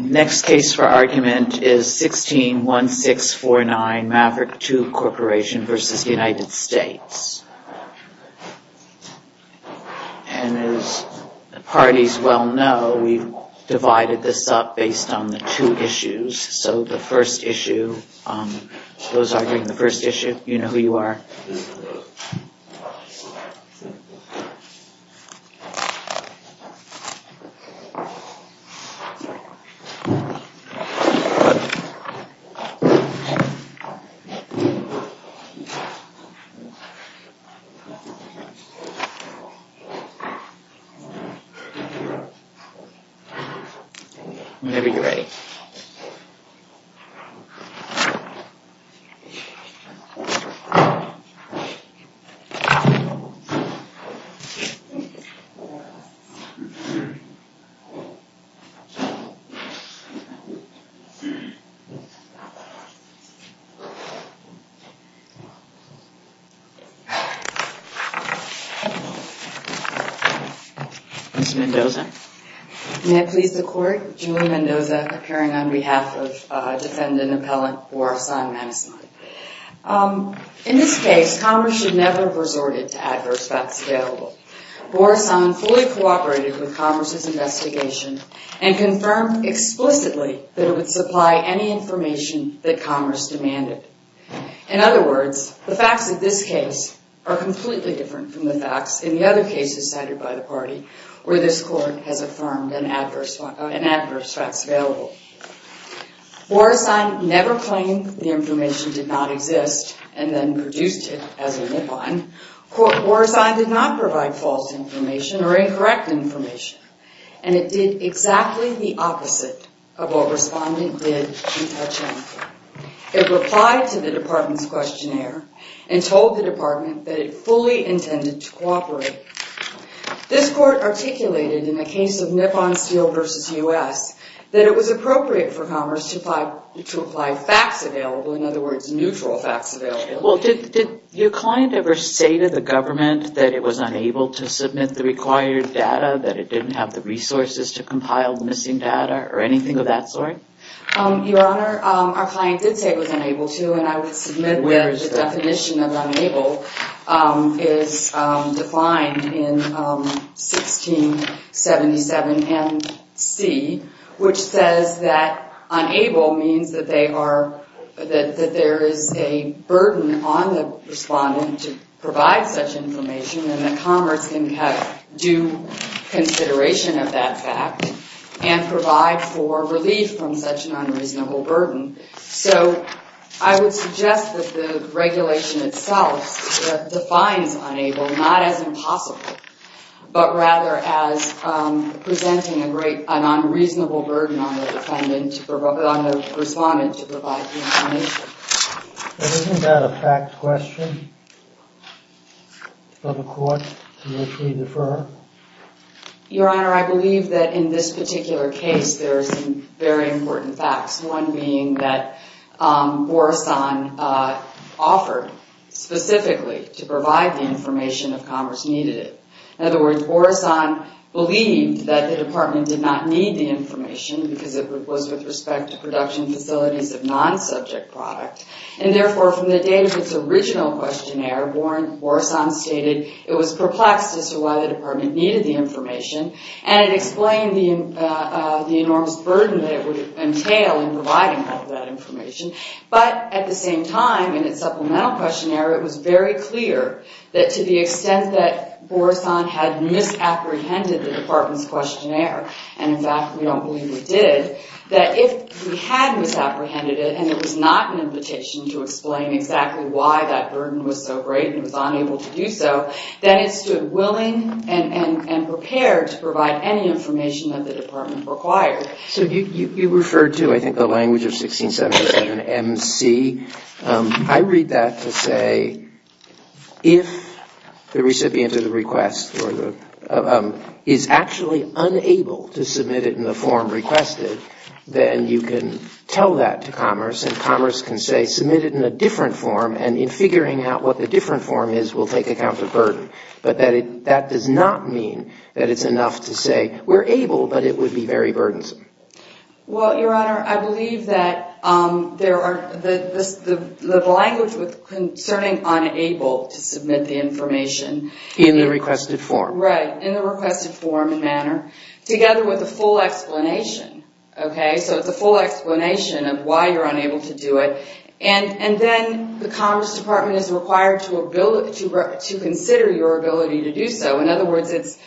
Next case for argument is 16-1649 Maverick Tube Corporation v. United States. And as the parties well know, we've divided this up based on the two issues. So the first issue, those arguing the first issue, you know who you are. Whenever you're ready. Ms. Mendoza. May I please the court? Julie Mendoza, appearing on behalf of defendant appellant Borisan Manisman. In this case, Congress should never have resorted to adverse facts available. Borisan fully cooperated with Congress's investigation and confirmed explicitly that it would supply any information that Congress demanded. In other words, the facts of this case are completely different from the facts in the other cases cited by the party where this court has affirmed an adverse facts available. Borisan never claimed the information did not exist and then produced it as a nip on. Borisan did not provide false information or incorrect information. And it did exactly the opposite of what respondent did in touching. It replied to the department's questionnaire and told the department that it fully intended to cooperate. This court articulated in the case of Nipon Steel v. U.S. that it was appropriate for Congress to apply facts available, in other words, neutral facts available. Well, did your client ever say to the government that it was unable to submit the required data, that it didn't have the resources to compile the missing data or anything of that sort? Your Honor, our client did say it was unable to and I would submit that the definition of unable is defined in 1677 and C, which says that unable means that there is a burden on the respondent to provide such information and that Congress can have due consideration of that fact and provide for relief from such an unreasonable burden. So I would suggest that the regulation itself defines unable not as impossible, but rather as presenting a great, an unreasonable burden on the respondent to provide the information. But isn't that a fact question of a court to which we defer? Your Honor, I believe that in this particular case there are some very important facts, one being that Borison offered specifically to provide the information if Congress needed it. In other words, Borison believed that the department did not need the information because it was with respect to production facilities of non-subject product. And therefore from the date of its original questionnaire, Borison stated it was perplexed as to why the department needed the information and it explained the enormous burden that it would entail in providing all of that information. But at the same time in its supplemental questionnaire it was very clear that to the extent that Borison had misapprehended the department's request, it did, that if we had misapprehended it and it was not an invitation to explain exactly why that burden was so great and it was unable to do so, then it stood willing and prepared to provide any information that the department required. So you referred to, I think, the language of 1677MC. I read that to say if the recipient of the request is actually unable to submit it in the form requested, then you can tell that to Commerce and Commerce can say submit it in a different form and in figuring out what the different form is, we'll take account of the burden. But that does not mean that it's enough to say we're able, but it would be very burdensome. Well, Your Honor, I believe that the language concerning unable to submit the information in the requested form. Right, in the requested form and manner, together with the full explanation. Okay? So it's a full explanation of why you're unable to do it. And then the Commerce Department is required to consider your ability to do so. In other words, it's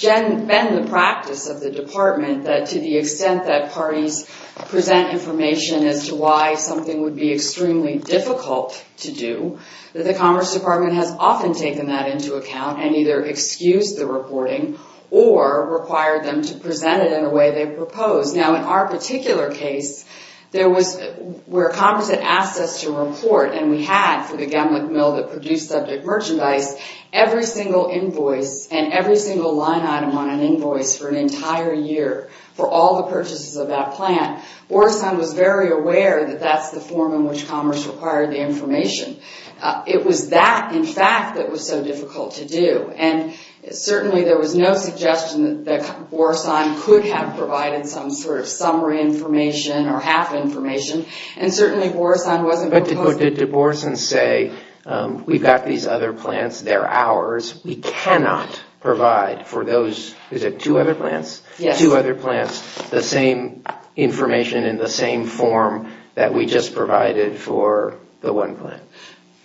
been the practice of the department that to the extent that parties present information as to why something would be extremely difficult to do, that the Commerce Department has often taken that into account and either excused the reporting or required them to present it in a way they proposed. Now, in our particular case, there was, where Commerce had asked us to report, and we had for the Gemlick Mill that produced subject merchandise, every single invoice and every single line item on an invoice for an entire year for all the purchases of that plant. Boresan was very aware that that's the form in which Commerce required the information. It was that, in fact, that was so difficult to do. And certainly there was no suggestion that Boresan could have provided some sort of summary information or half information. And certainly Boresan wasn't proposed to. But did Boresan say, we've got these other plants, they're ours, we cannot provide for those, is it two other plants? Yes. Two other plants, the same information in the same form that we just provided for the one plant?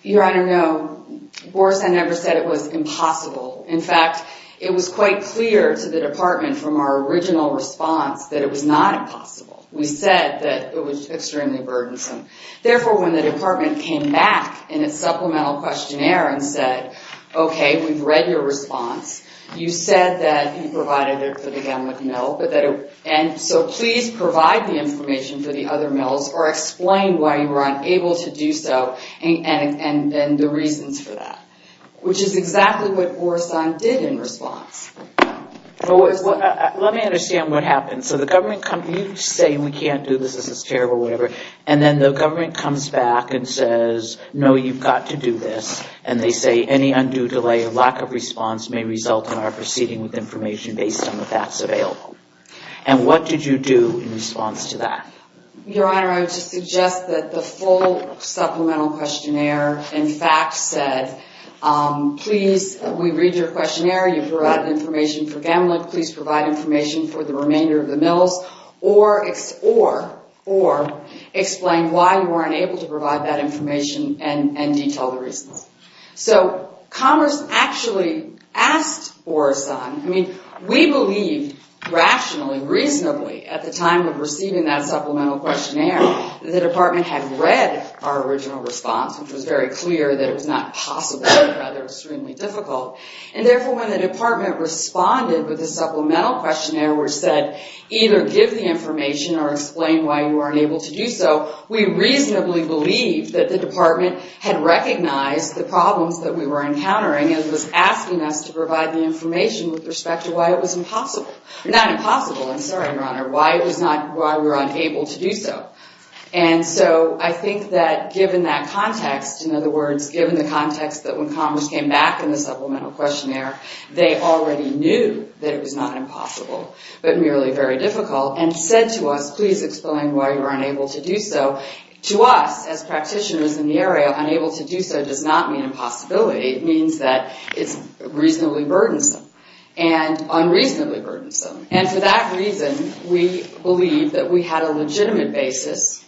Your Honor, no. Boresan never said it was impossible. In fact, it was quite clear to the department from our original response that it was not impossible. We said that it was extremely burdensome. Therefore, when the department came back in its supplemental questionnaire and said, okay, we've read your response. You said that you provided it for the Gatlin Mill. And so please provide the information for the other mills or explain why you were unable to do so and the reasons for that. Which is exactly what Boresan did in response. Let me understand what happened. So the government comes, you say we can't do this, this is terrible, and then the government comes back and says, no, you've got to do this. And they say any undue delay or lack of response may result in our proceeding with information based on the facts available. And what did you do in response to that? Your Honor, I would suggest that the full supplemental questionnaire in fact said, please, we read your questionnaire, you provided information for Gatlin, please provide information for the remainder of the mills or explain why you weren't able to provide that information and detail the reasons. So Commerce actually asked Boresan, I mean, we believed rationally, reasonably at the time of receiving that supplemental questionnaire that the department had read our original response, which was very clear that it was not possible but rather extremely difficult. And therefore when the department responded with a supplemental questionnaire which said either give the information or explain why you weren't able to do so, we reasonably believed that the department had recognized the problems that we were encountering and was asking us to provide the information with respect to why it was impossible, not impossible, I'm sorry, Your Honor, why it was not, why we were unable to do so. And so I think that given that context, in other words, given the context that when Commerce came back in the supplemental questionnaire, they already knew that it was not impossible but merely very difficult and said to us, please explain why you were unable to do so. To us as practitioners in the area, unable to do so does not mean impossibility, it means that it's reasonably burdensome and unreasonably burdensome. And for that reason, we believe that we had a legitimate basis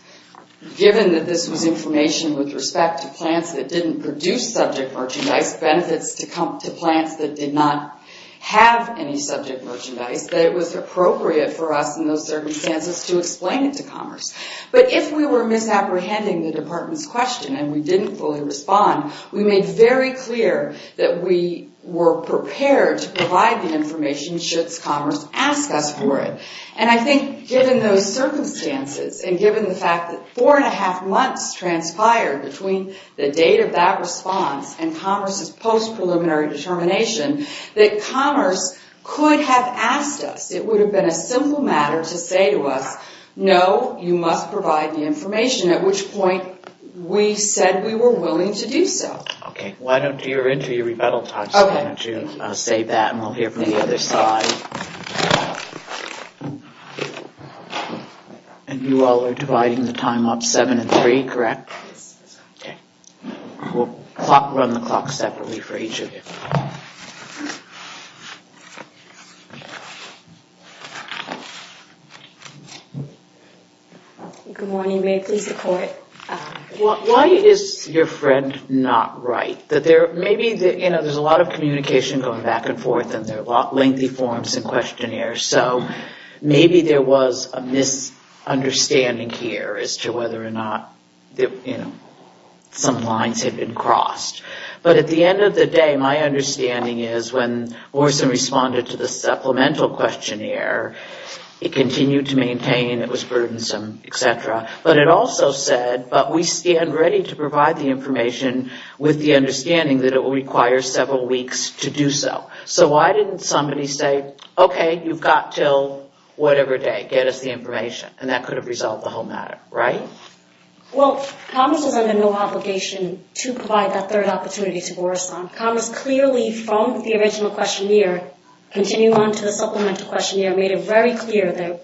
given that this was information with respect to plants that didn't produce subject merchandise, benefits to plants that did not have any subject merchandise, that it was appropriate for us in those circumstances to explain it to Commerce. But if we were misapprehending the department's question and we didn't fully respond, we made very clear that we were prepared to provide the information should Commerce ask us for it. And I think given those circumstances and given the fact that four and a half months transpired between the date of that response and Commerce's post-preliminary determination, that Commerce could have asked us, it would have been a simple matter to say to us, no, you must provide the information, at which point we said we were willing to do so. Okay, why don't you enter your rebuttal talks again to say that and we'll hear from the other side. And you all are dividing the time up seven and three, correct? We'll run the clock separately for each of you. Good morning, may I please report? Why is your friend not right? Maybe there's a lot of communication going back and forth and there are a lot of lengthy forms and questionnaires, so maybe there was a misunderstanding here as to whether or not some lines had been crossed. But at the end of the day, my understanding is when Morrison responded to the supplemental questionnaire, it continued to maintain it was burdensome, et cetera. But it also said, but we stand ready to provide the information with the understanding that it will require several weeks to do so. So why didn't somebody say, okay, you've got until whatever day, get us the information, and that could have resolved the whole matter, right? Well, Commerce was under no obligation to provide that third opportunity to Morrison. Commerce clearly, from the original questionnaire, continuing on to the supplemental questionnaire, made it very clear that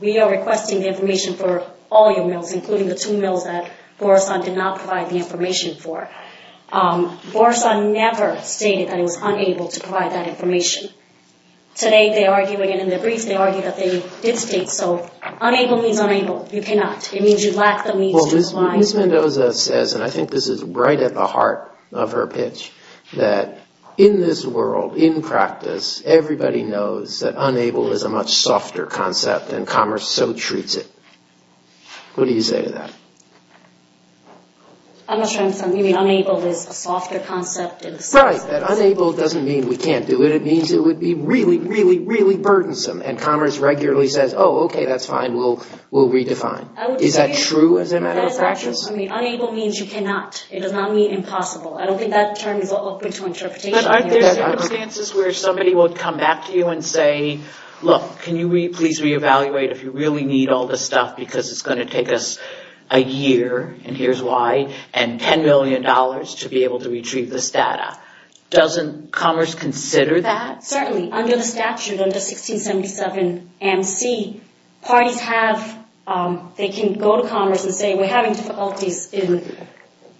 we are requesting the information for all your mills, including the two mills that Morrison did not provide the information for. Morrison never stated that he was unable to provide that information. Today, they argue again in their briefs, they argue that they did state so. Unable means unable. You cannot. It means you lack the means to comply. Ms. Mendoza says, and I think this is right at the heart of her pitch, that in this world, in practice, everybody knows that unable is a much softer concept, and Commerce so treats it. What do you say to that? I'm not sure I understand. You mean unable is a softer concept? Right. Unable doesn't mean we can't do it. It means it would be really, really, really burdensome. And Commerce regularly says, oh, okay, that's fine. We'll redefine. Is that true as a matter of practice? Unable means you cannot. It does not mean impossible. I don't think that term is open to interpretation. But aren't there circumstances where somebody will come back to you and say, look, can you please reevaluate if you really need all this stuff because it's going to take us a year, and here's why, and $10 million to be able to retrieve this data? Doesn't Commerce consider that? Certainly. Under the statute, under 1677MC, parties have, they can go to Commerce and say, we're having difficulties in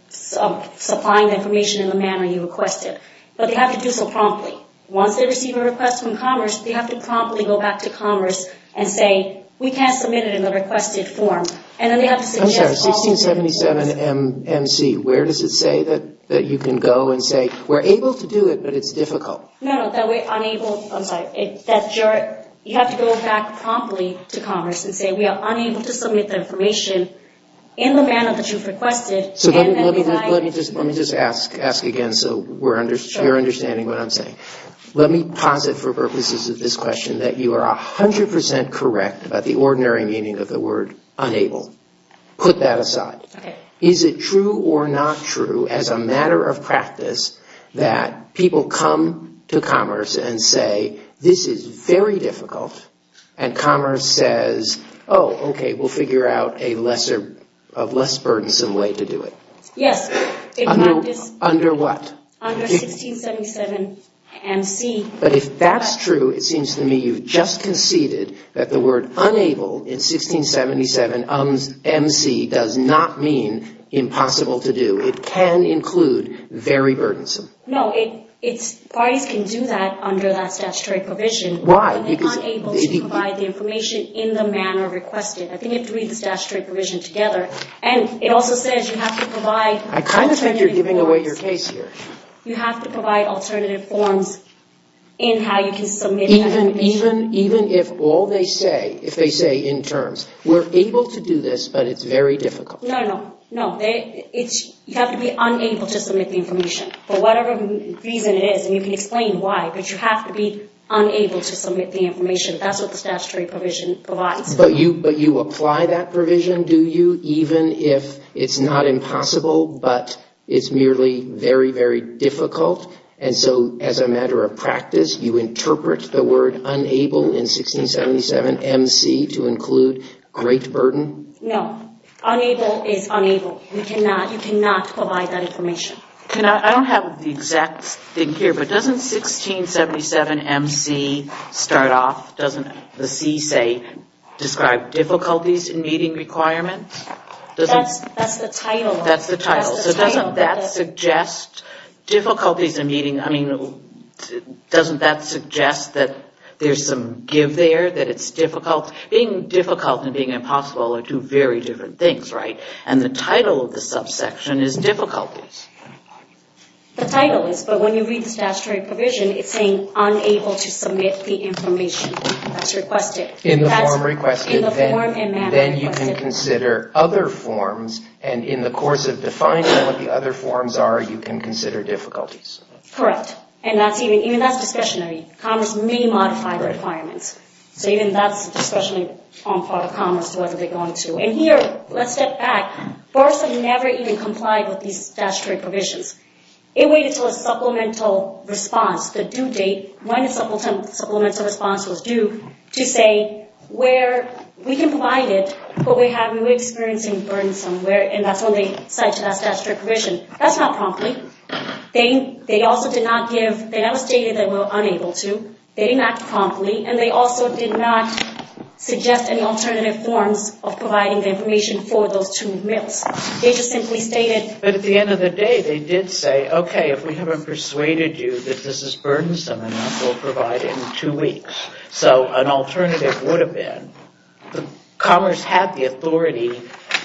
supplying the information in the manner you requested. But they have to do so promptly. Once they receive a request from Commerce, they have to promptly go back to Commerce and say, we can't submit it in the requested form. I'm sorry, 1677MC, where does it say that you can go and say, we're able to do it, but it's difficult? No, no, that we're unable, I'm sorry, that you have to go back promptly to Commerce and say, we are unable to submit the information in the manner that you've requested. So let me just ask again so we're understanding what I'm saying. Let me posit for purposes of this question that you are 100 percent correct about the ordinary meaning of the word unable. Put that aside. Okay. Is it true or not true as a matter of practice that people come to Commerce and say, this is very difficult, and Commerce says, oh, okay, we'll figure out a less burdensome way to do it? Yes. Under what? Under 1677MC. But if that's true, it seems to me you've just conceded that the word unable in 1677MC does not mean impossible to do. It can include very burdensome. No, parties can do that under that statutory provision. Why? Because they're unable to provide the information in the manner requested. I think you have to read the statutory provision together. And it also says you have to provide alternative forms. I kind of think you're giving away your case here. You have to provide alternative forms in how you can submit that information. Even if all they say, if they say in terms, we're able to do this, but it's very difficult. No, no, no. You have to be unable to submit the information for whatever reason it is. And you can explain why, but you have to be unable to submit the information. That's what the statutory provision provides. But you apply that provision, do you, even if it's not impossible, but it's merely very, very difficult? And so as a matter of practice, you interpret the word unable in 1677MC to include great burden? No. Unable is unable. You cannot provide that information. I don't have the exact thing here, but doesn't 1677MC start off, doesn't the C say, describe difficulties in meeting requirements? That's the title. That's the title. So doesn't that suggest difficulties in meeting, I mean, doesn't that suggest that there's some give there, that it's difficult? Because being difficult and being impossible are two very different things, right? And the title of the subsection is difficulties. The title is, but when you read the statutory provision, it's saying unable to submit the information. That's requested. In the form requested, then you can consider other forms, and in the course of defining what the other forms are, you can consider difficulties. Correct. And even that's discretionary. Commerce may modify requirements. So even that's discretionary on the part of Commerce, whether they're going to. And here, let's step back. BARSA never even complied with these statutory provisions. It waited until a supplemental response, the due date, when a supplemental response was due, to say where we can provide it, but we're experiencing burden somewhere, and that's when they cite to that statutory provision. That's not promptly. They also did not give, they never stated they were unable to. They didn't act promptly, and they also did not suggest any alternative forms of providing the information for those two males. They just simply stated. But at the end of the day, they did say, okay, if we haven't persuaded you that this is burdensome enough, we'll provide it in two weeks. So an alternative would have been, Commerce had the authority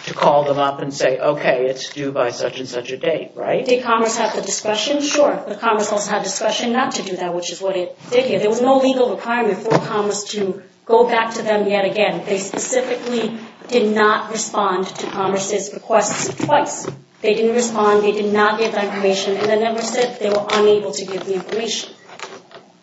to call them up and say, okay, it's due by such and such a date, right? Did Commerce have the discretion? Sure, but Commerce also had discretion not to do that, which is what it did here. There was no legal requirement for Commerce to go back to them yet again. They specifically did not respond to Commerce's requests twice. They didn't respond. They did not give that information, and they never said they were unable to give the information.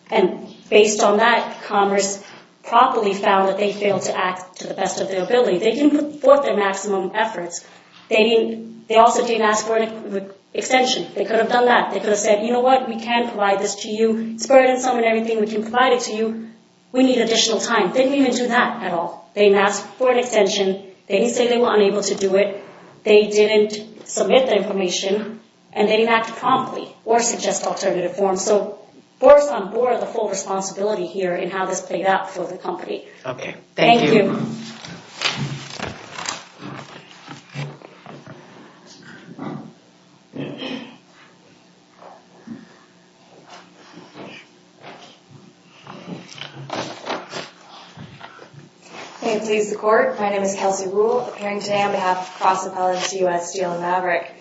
And based on that, Commerce properly found that they failed to act to the best of their ability. They didn't put forth their maximum efforts. They also didn't ask for an extension. They could have done that. They could have said, you know what? We can provide this to you. It's burdensome and everything. We can provide it to you. We need additional time. They didn't even do that at all. They didn't ask for an extension. They didn't say they were unable to do it. They didn't submit the information, and they didn't act promptly or suggest alternative forms. So force on board the full responsibility here in how this played out for the company. Okay. Thank you. Thank you. May it please the Court. My name is Kelsey Rule, appearing today on behalf of Cross Appellants U.S. Steel and Maverick.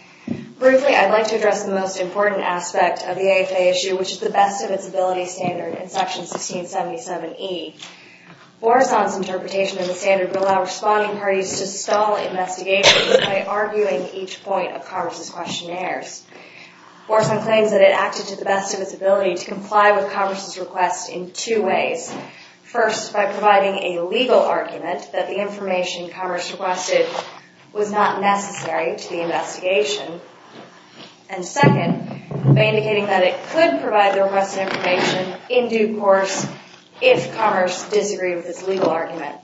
Briefly, I'd like to address the most important aspect of the AFA issue, which is the best of its ability standard in Section 1677E. Bourson's interpretation of the standard will allow responding parties to stall investigations by arguing each point of Commerce's questionnaires. Bourson claims that it acted to the best of its ability to comply with Commerce's request in two ways. First, by providing a legal argument that the information Commerce requested was not necessary to the investigation. And second, by indicating that it could provide the requested information in due course if Commerce disagreed with its legal argument.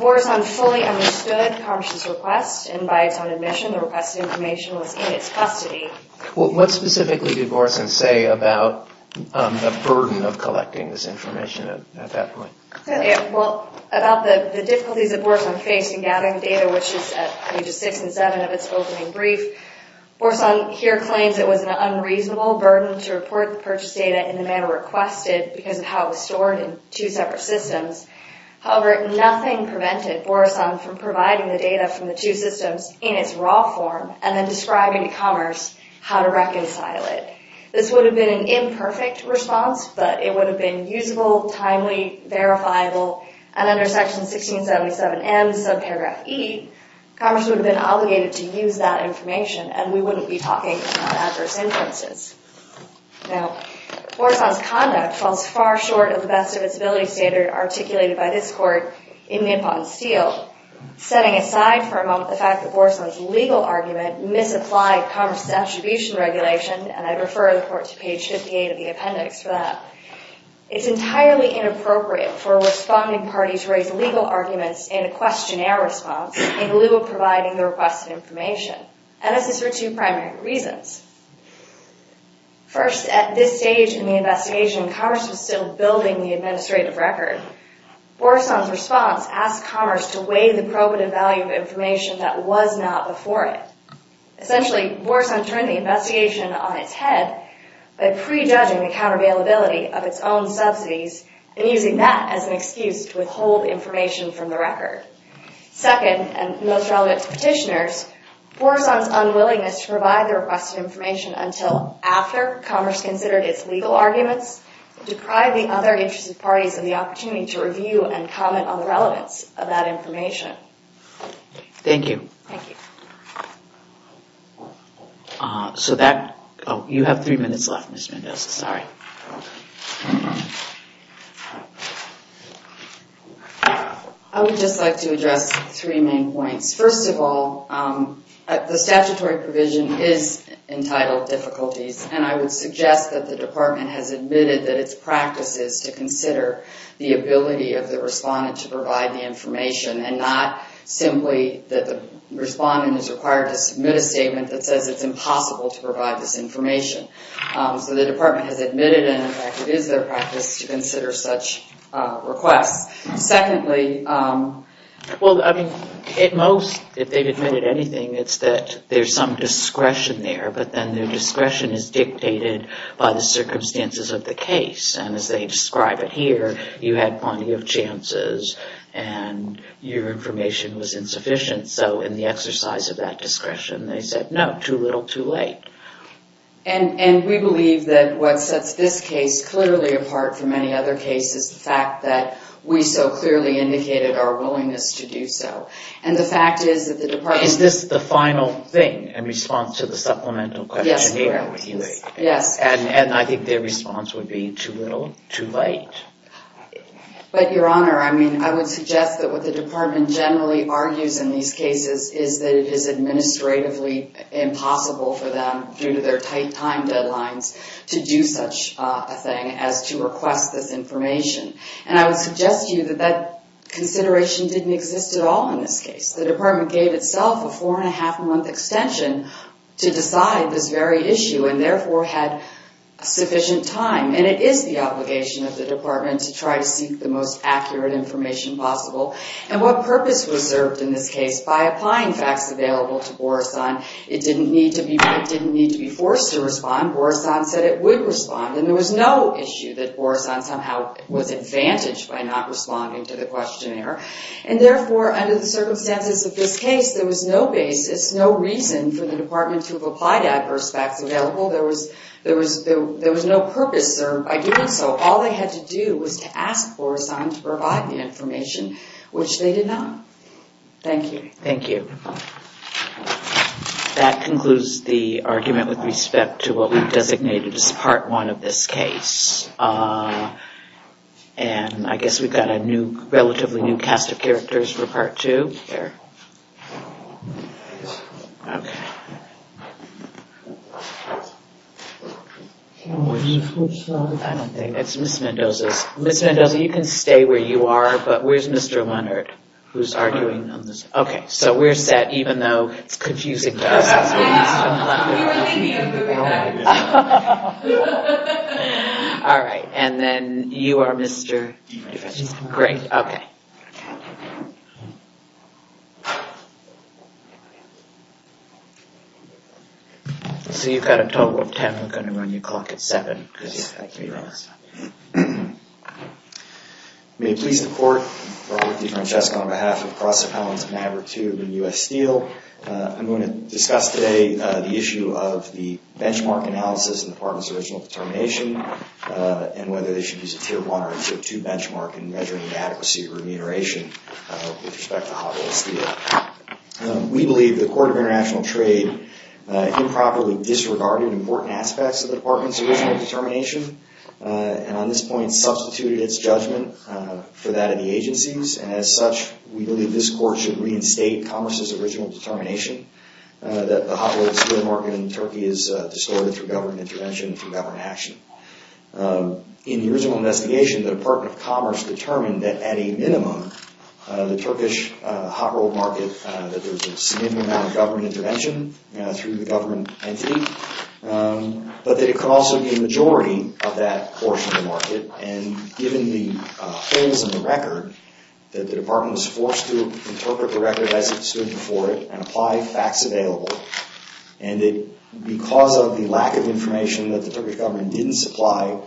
Bourson fully understood Commerce's request, and by its own admission, the requested information was in its custody. Well, what specifically did Bourson say about the burden of collecting this information at that point? Well, about the difficulties that Bourson faced in gathering data, which is at pages 6 and 7 of its opening brief. Bourson here claims it was an unreasonable burden to report the purchased data in the manner requested because of how it was stored in two separate systems. However, nothing prevented Bourson from providing the data from the two systems in its raw form and then describing to Commerce how to reconcile it. This would have been an imperfect response, but it would have been usable, timely, verifiable, and under Section 1677M, subparagraph E, Commerce would have been obligated to use that information and we wouldn't be talking about adverse inferences. Now, Bourson's conduct falls far short of the best of its ability standard articulated by this Court in Nippon-Steele, setting aside for a moment the fact that Bourson's legal argument misapplied Commerce's attribution regulation, and I refer the Court to page 58 of the appendix for that. It's entirely inappropriate for a responding party to raise legal arguments in a questionnaire response in lieu of providing the requested information. And this is for two primary reasons. First, at this stage in the investigation, Commerce was still building the administrative record. Bourson's response asked Commerce to weigh the probative value of information that was not before it. Essentially, Bourson turned the investigation on its head by prejudging the countervailability of its own subsidies and using that as an excuse to withhold information from the record. Second, and most relevant to petitioners, Bourson's unwillingness to provide the requested information until after Commerce considered its legal arguments deprived the other interested parties of the opportunity to review and comment on the relevance of that information. Thank you. Thank you. So that... Oh, you have three minutes left, Ms. Mendoza. Sorry. I would just like to address three main points. First of all, the statutory provision is entitled difficulties, and I would suggest that the Department has admitted that its practice is to consider the ability of the respondent to provide the information and not simply that the respondent is required to submit a statement that says it's impossible to provide this information. So the Department has admitted and, in fact, it is their practice to consider such requests. Secondly... Well, I mean, at most, if they've admitted anything, it's that there's some discretion there, but then their discretion is dictated by the circumstances of the case. And as they describe it here, you had plenty of chances and your information was insufficient. So in the exercise of that discretion, they said, no, too little, too late. And we believe that what sets this case clearly apart from many other cases is the fact that we so clearly indicated our willingness to do so. And the fact is that the Department... Is this the final thing in response to the supplemental question here? Yes, correct. Yes. And I think their response would be, too little, too late. But, Your Honor, I mean, I would suggest that what the Department generally argues in these cases is that it is administratively impossible for them, due to their tight time deadlines, to do such a thing as to request this information. And I would suggest to you that that consideration didn't exist at all in this case. The Department gave itself a four-and-a-half-month extension to decide this very issue and, therefore, had sufficient time. And it is the obligation of the Department to try to seek the most accurate information possible. And what purpose was served in this case? By applying facts available to Borison, it didn't need to be forced to respond. Borison said it would respond. And there was no issue that Borison somehow was advantaged by not responding to the questionnaire. And, therefore, under the circumstances of this case, there was no basis, and for the Department to have applied adverse facts available, there was no purpose served by doing so. All they had to do was to ask Borison to provide the information, which they did not. Thank you. Thank you. That concludes the argument with respect to what we've designated as Part 1 of this case. And I guess we've got a relatively new cast of characters for Part 2. It's Ms. Mendoza's. Ms. Mendoza, you can stay where you are, but where's Mr. Leonard, who's arguing on this? Okay, so we're set, even though it's confusing to us. We were thinking of moving on. All right. And then you are Mr.? Great. Okay. So you've got a total of 10. We're going to run your clock at 7. May it please the Court, Robert D. Francesco on behalf of Cross Appellants, Maverick 2, and U.S. Steel. I'm going to discuss today the issue of the benchmark analysis in the Department's original determination and whether they should use a Tier 1 or Tier 2 benchmark in measuring the adequacy of remuneration with respect to Hot Wheels Steel. We believe the Court of International Trade improperly disregarded important aspects of the Department's original determination and on this point substituted its judgment for that of the agencies. And as such, we believe this Court should reinstate Commerce's original determination that the Hot Wheels Steel market in Turkey is distorted through government intervention and through government action. In the original investigation, the Department of Commerce determined that at a minimum, the Turkish Hot Wheels market, that there's a significant amount of government intervention through the government entity, but that it could also be a majority of that portion of the market. And given the holes in the record, that the Department was forced to interpret the record as it stood before it and apply facts available, and that because of the lack of information that the Turkish government didn't supply,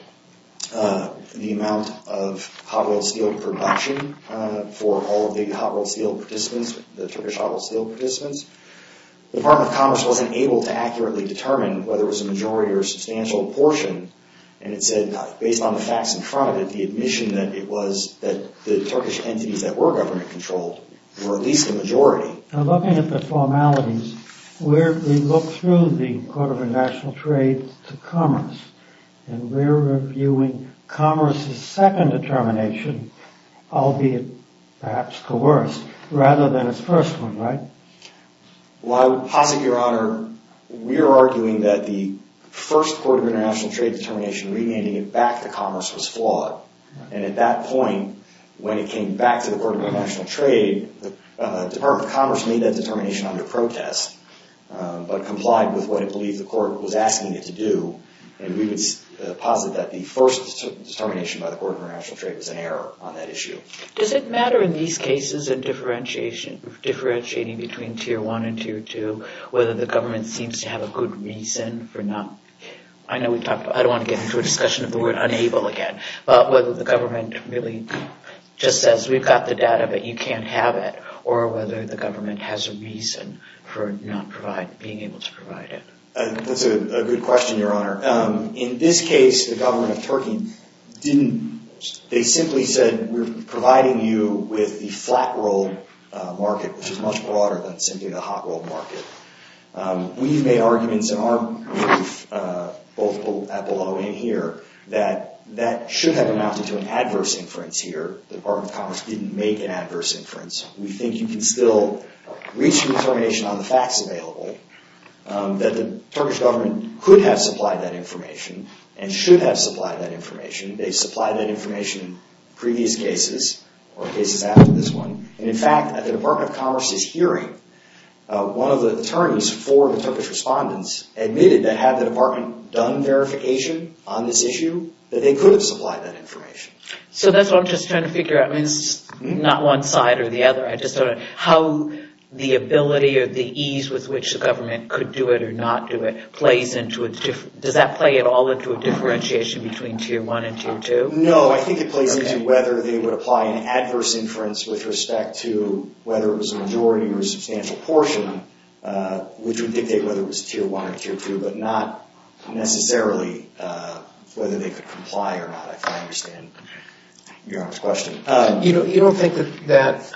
the amount of Hot Wheels Steel production for all of the Turkish Hot Wheels Steel participants, the Department of Commerce wasn't able to accurately determine whether it was a majority or a substantial portion. And it said, based on the facts in front of it, the admission that it was, that the Turkish entities that were government controlled were at least a majority. Now looking at the formalities, we look through the Court of International Trade to Commerce and we're reviewing Commerce's second determination, albeit perhaps coerced, rather than its first one, right? Well, I would posit, Your Honor, we're arguing that the first Court of International Trade determination remanding it back to Commerce was flawed. And at that point, when it came back to the Court of International Trade, the Department of Commerce made that determination under protest, but complied with what it believed the Court was asking it to do. And we would posit that the first determination by the Court of International Trade was an error on that issue. Does it matter in these cases in differentiating between Tier 1 and Tier 2, whether the government seems to have a good reason for not, I know we talked about, I don't want to get into a discussion of the word unable again, but whether the government really just says, we've got the data, but you can't have it, or whether the government has a reason for not being able to provide it? That's a good question, Your Honor. In this case, the government of Turkey didn't, they simply said, we're providing you with the flat-roll market, which is much broader than simply the hot-roll market. We've made arguments in our brief, both below and here, that that should have amounted to an adverse inference here. The Department of Commerce didn't make an adverse inference. We think you can still reach a determination on the facts available that the Turkish government could have supplied that information and should have supplied that information. They supplied that information in previous cases or cases after this one. In fact, at the Department of Commerce's hearing, one of the attorneys for the Turkish respondents admitted that had the department done verification on this issue, that they could have supplied that information. So that's what I'm just trying to figure out. It's not one side or the other. How the ability or the ease with which the government could do it or not do it, does that play at all into a differentiation between Tier 1 and Tier 2? No, I think it plays into whether they would apply an adverse inference with respect to whether it was a majority or a substantial portion, which would dictate whether it was Tier 1 or Tier 2, but not necessarily whether they could comply or not, if I understand Your Honor's question. You don't think that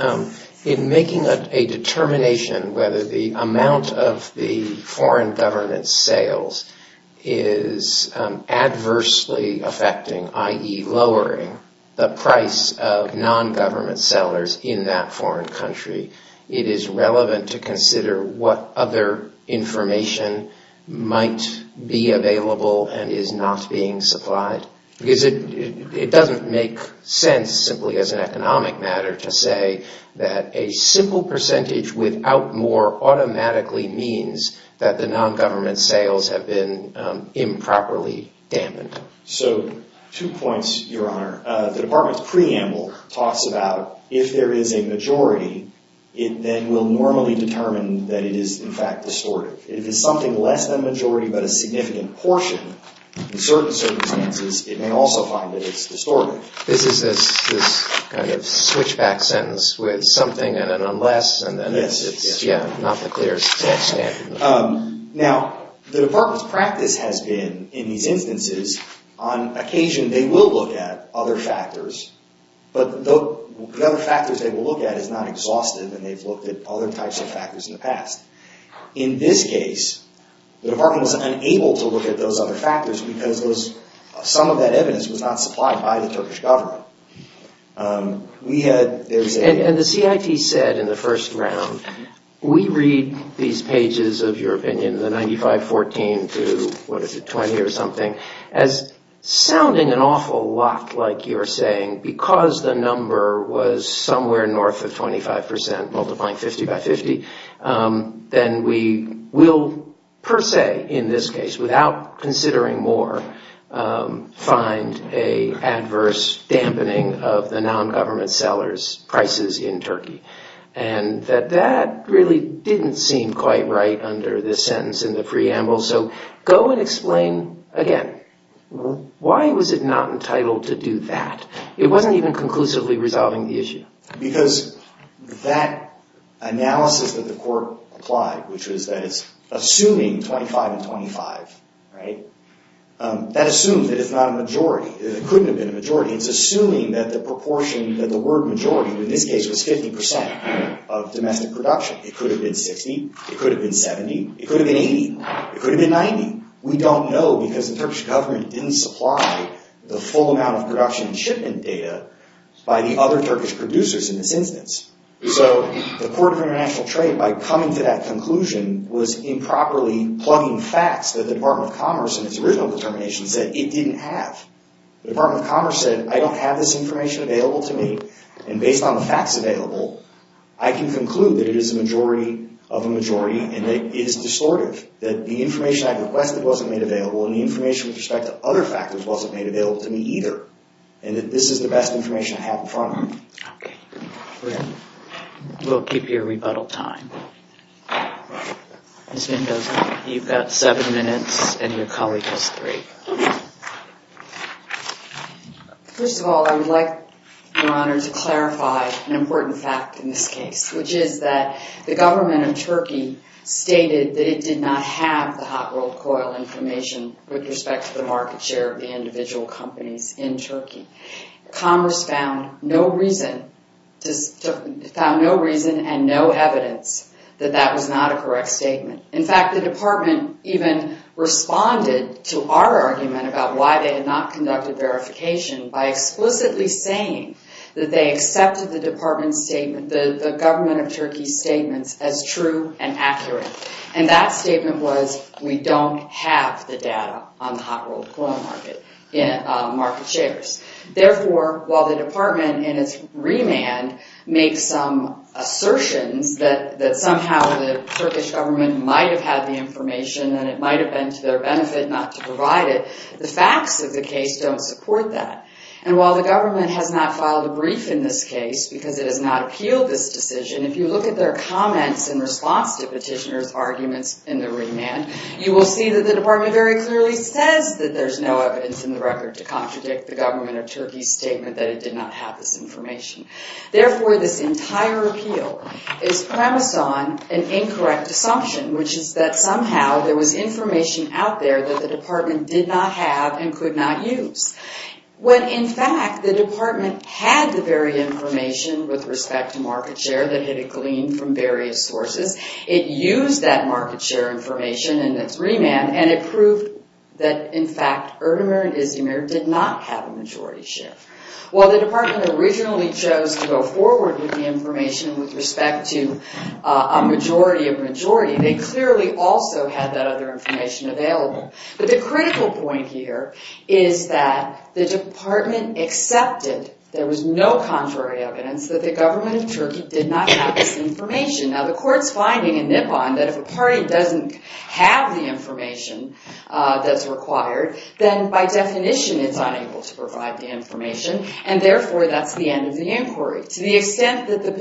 in making a determination whether the amount of the foreign government's sales is adversely affecting, i.e. lowering, the price of non-government sellers in that foreign country, it is relevant to consider what other information might be available and is not being supplied? Because it doesn't make sense, simply as an economic matter, to say that a simple percentage without more automatically means that the non-government sales have been improperly dampened. So, two points, Your Honor. The department's preamble talks about if there is a majority, it then will normally determine that it is, in fact, distorted. If it's something less than a majority but a significant portion, in certain circumstances, it may also find that it's distorted. This is this kind of switchback sentence with something and an unless, and then it's, yeah, not the clearest standard. Now, the department's practice has been, in these instances, on occasion they will look at other factors, but the other factors they will look at is not exhaustive, and they've looked at other types of factors in the past. In this case, the department was unable to look at those other factors because some of that evidence was not supplied by the Turkish government. And the CIT said in the first round, we read these pages of your opinion, the 95-14 to, what is it, 20 or something, as sounding an awful lot like you're saying and because the number was somewhere north of 25%, multiplying 50 by 50, then we will, per se, in this case, without considering more, find an adverse dampening of the non-government sellers' prices in Turkey. And that that really didn't seem quite right under this sentence in the preamble, so go and explain again. Why was it not entitled to do that? It wasn't even conclusively resolving the issue. Because that analysis that the court applied, which was that it's assuming 25 and 25, right, that assumes that it's not a majority. It couldn't have been a majority. It's assuming that the proportion, that the word majority, in this case was 50% of domestic production. It could have been 60. It could have been 70. It could have been 80. It could have been 90. We don't know because the Turkish government didn't supply the full amount of production and shipment data by the other Turkish producers in this instance. So the Court of International Trade, by coming to that conclusion, was improperly plugging facts that the Department of Commerce, in its original determination, said it didn't have. The Department of Commerce said, I don't have this information available to me, and based on the facts available, I can conclude that it is a majority of a majority and that it is distortive, that the information I requested wasn't made available and the information with respect to other factors wasn't made available to me either, and that this is the best information I have in front of me. Okay. We'll keep your rebuttal time. Ms. Mendoza, you've got seven minutes, and your colleague has three. First of all, I would like, Your Honor, to clarify an important fact in this case, which is that the government of Turkey stated that it did not have the hot-rolled coil information with respect to the market share of the individual companies in Turkey. Commerce found no reason and no evidence that that was not a correct statement. In fact, the Department even responded to our argument about why they had not conducted verification by explicitly saying that they accepted the Department's statement, the government of Turkey's statement, as true and accurate. And that statement was, we don't have the data on the hot-rolled coil market shares. Therefore, while the Department, in its remand, makes some assertions that somehow the Turkish government might have had the information and it might have been to their benefit not to provide it, the facts of the case don't support that. And while the government has not filed a brief in this case, because it has not appealed this decision, if you look at their comments in response to petitioners' arguments in the remand, you will see that the Department very clearly says that there's no evidence in the record to contradict the government of Turkey's statement that it did not have this information. Therefore, this entire appeal is premised on an incorrect assumption, which is that somehow there was information out there that the Department did not have and could not use. When, in fact, the Department had the very information with respect to market share that it had gleaned from various sources, it used that market share information in its remand, and it proved that, in fact, Erdemir and Izmir did not have a majority share. While the Department originally chose to go forward with the information with respect to a majority of majority, they clearly also had that other information available. But the critical point here is that the Department accepted there was no contrary evidence that the government of Turkey did not have this information. Now, the Court's finding in Nippon that if a party doesn't have the information that's required, then by definition it's unable to provide the information, and therefore that's the end of the inquiry. To the extent that the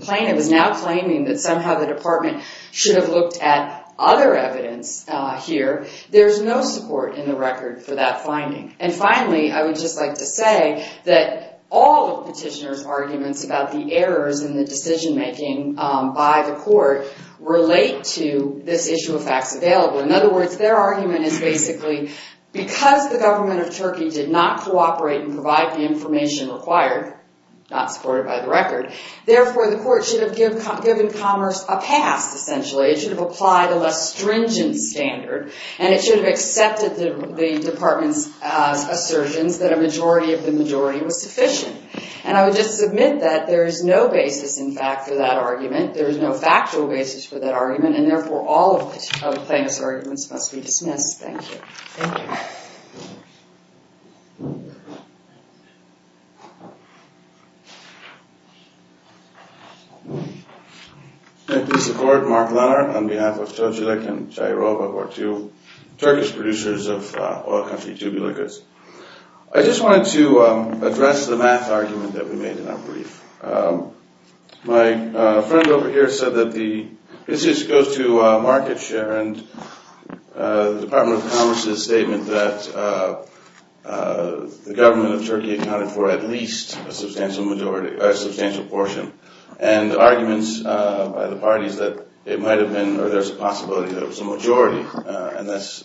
plaintiff is now claiming that somehow the Department should have looked at other evidence here, there's no support in the record for that finding. And finally, I would just like to say that all of Petitioner's arguments about the errors in the decision-making by the Court relate to this issue of facts available. In other words, their argument is basically because the government of Turkey did not cooperate and provide the information required, not supported by the record, therefore the Court should have given commerce a pass, essentially. It should have applied a less stringent standard, and it should have accepted the Department's assertions that a majority of the majority was sufficient. And I would just submit that there is no basis, in fact, for that argument. There is no factual basis for that argument, and therefore all of the plaintiff's arguments must be dismissed. Thank you. Thank you, Mr. Court. Mark Lennart on behalf of Çocuk and Çayırova, who are two Turkish producers of oil country tubular goods. I just wanted to address the math argument that we made in our brief. My friend over here said that the business goes to market share, and the Department of Commerce's statement that the government of Turkey accounted for at least a substantial portion, and arguments by the parties that it might have been, or there's a possibility that it was a majority, and that's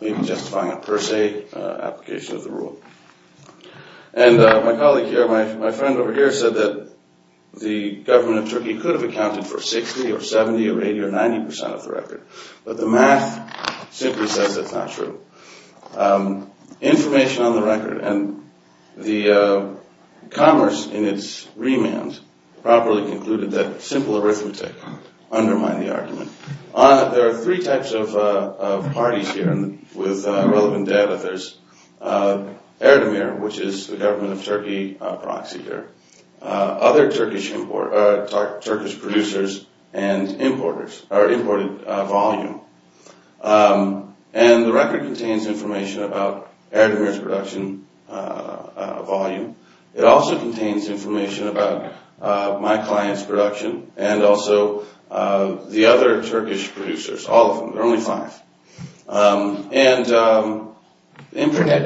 maybe justifying a per se application of the rule. And my colleague here, my friend over here, said that the government of Turkey could have accounted for 60 or 70 or 80 or 90 percent of the record, but the math simply says that's not true. Information on the record, and the commerce in its remand properly concluded that simple arithmetic undermined the argument. There are three types of parties here, and with relevant data there's Erdemir, which is the government of Turkey proxy here, other Turkish producers and importers, or imported volume. And the record contains information about Erdemir's production volume. It also contains information about my client's production, and also the other Turkish producers, all of them, there are only five.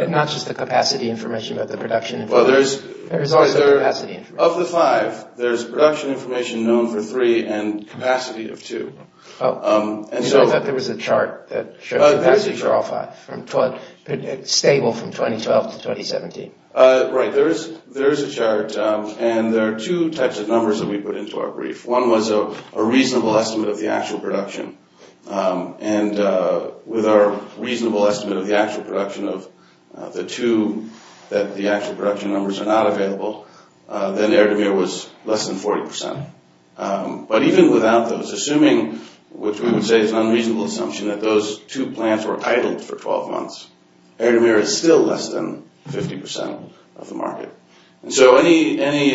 Not just the capacity information, but the production information. Of the five, there's production information known for three, and capacity of two. I thought there was a chart that showed the capacity for all five, stable from 2012 to 2017. Right, there is a chart, and there are two types of numbers that we put into our brief. One was a reasonable estimate of the actual production, and with our reasonable estimate of the actual production of the two, that the actual production numbers are not available, then Erdemir was less than 40 percent. But even without those, assuming, which we would say is an unreasonable assumption, that those two plants were titled for 12 months, Erdemir is still less than 50 percent of the market. So any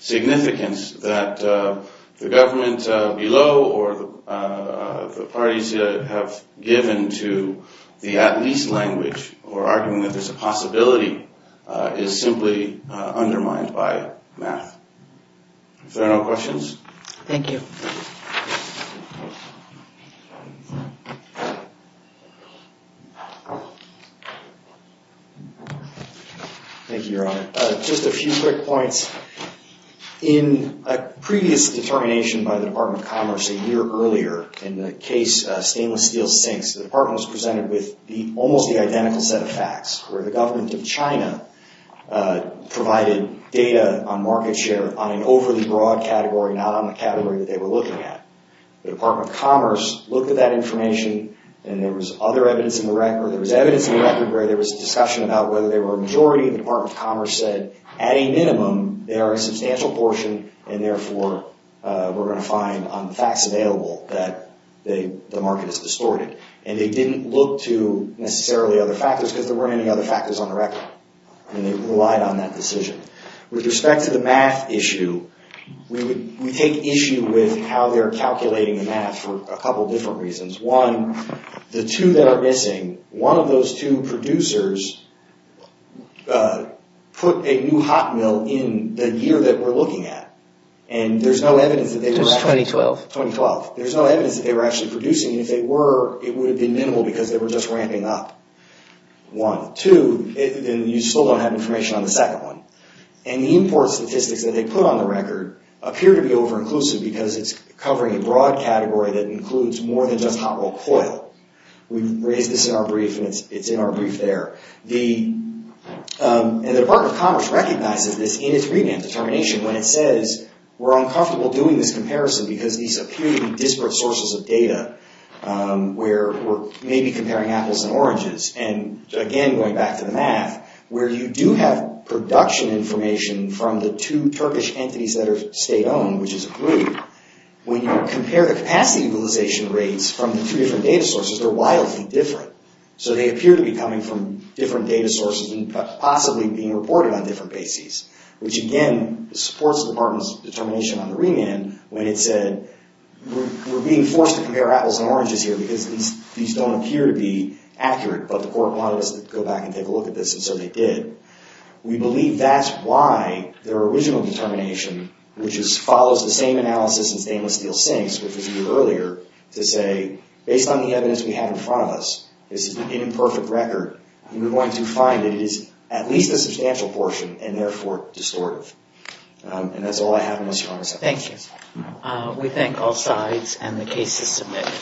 significance that the government below, or the parties have given to the at-least language, or arguing that there's a possibility, is simply undermined by math. Is there no questions? Thank you. Thank you, Your Honor. Just a few quick points. In a previous determination by the Department of Commerce a year earlier, in the case Stainless Steel Sinks, the department was presented with almost the identical set of facts, where the government of China provided data on market share on an overly broad category, not on the category that they were looking at. The Department of Commerce looked at that information, and there was other evidence in the record. There was evidence in the record where there was discussion about whether they were a majority, and the Department of Commerce said, at a minimum, they are a substantial portion, and therefore we're going to find on the facts available that the market is distorted. And they didn't look to necessarily other factors, because there weren't any other factors on the record, and they relied on that decision. With respect to the math issue, we take issue with how they're calculating the math for a couple different reasons. One, the two that are missing, one of those two producers put a new hot mill in the year that we're looking at, and there's no evidence that they were actually... It was 2012. 2012. There's no evidence that they were actually producing, and if they were, it would have been minimal, because they were just ramping up. One. Two, and you still don't have information on the second one. And the import statistics that they put on the record appear to be over-inclusive, because it's covering a broad category that includes more than just hot roll coil. We've raised this in our brief, and it's in our brief there. The Department of Commerce recognizes this in its revamp determination, when it says we're uncomfortable doing this comparison, because these appear to be disparate sources of data where we're maybe comparing apples and oranges. And again, going back to the math, where you do have production information from the two Turkish entities that are state-owned, which is a group, when you compare the capacity utilization rates from the two different data sources, they're wildly different. So they appear to be coming from different data sources and possibly being reported on different bases, which again, supports the Department's determination on the remand, when it said we're being forced to compare apples and oranges here, because these don't appear to be accurate, but the court wanted us to go back and take a look at this, and so they did. We believe that's why their original determination, which follows the same analysis in stainless steel sinks, which was reviewed earlier, to say, based on the evidence we have in front of us, this is an imperfect record, and we're going to find that it is at least a substantial portion, and therefore, distortive. And that's all I have, Thank you. We thank all sides, and the case is submitted.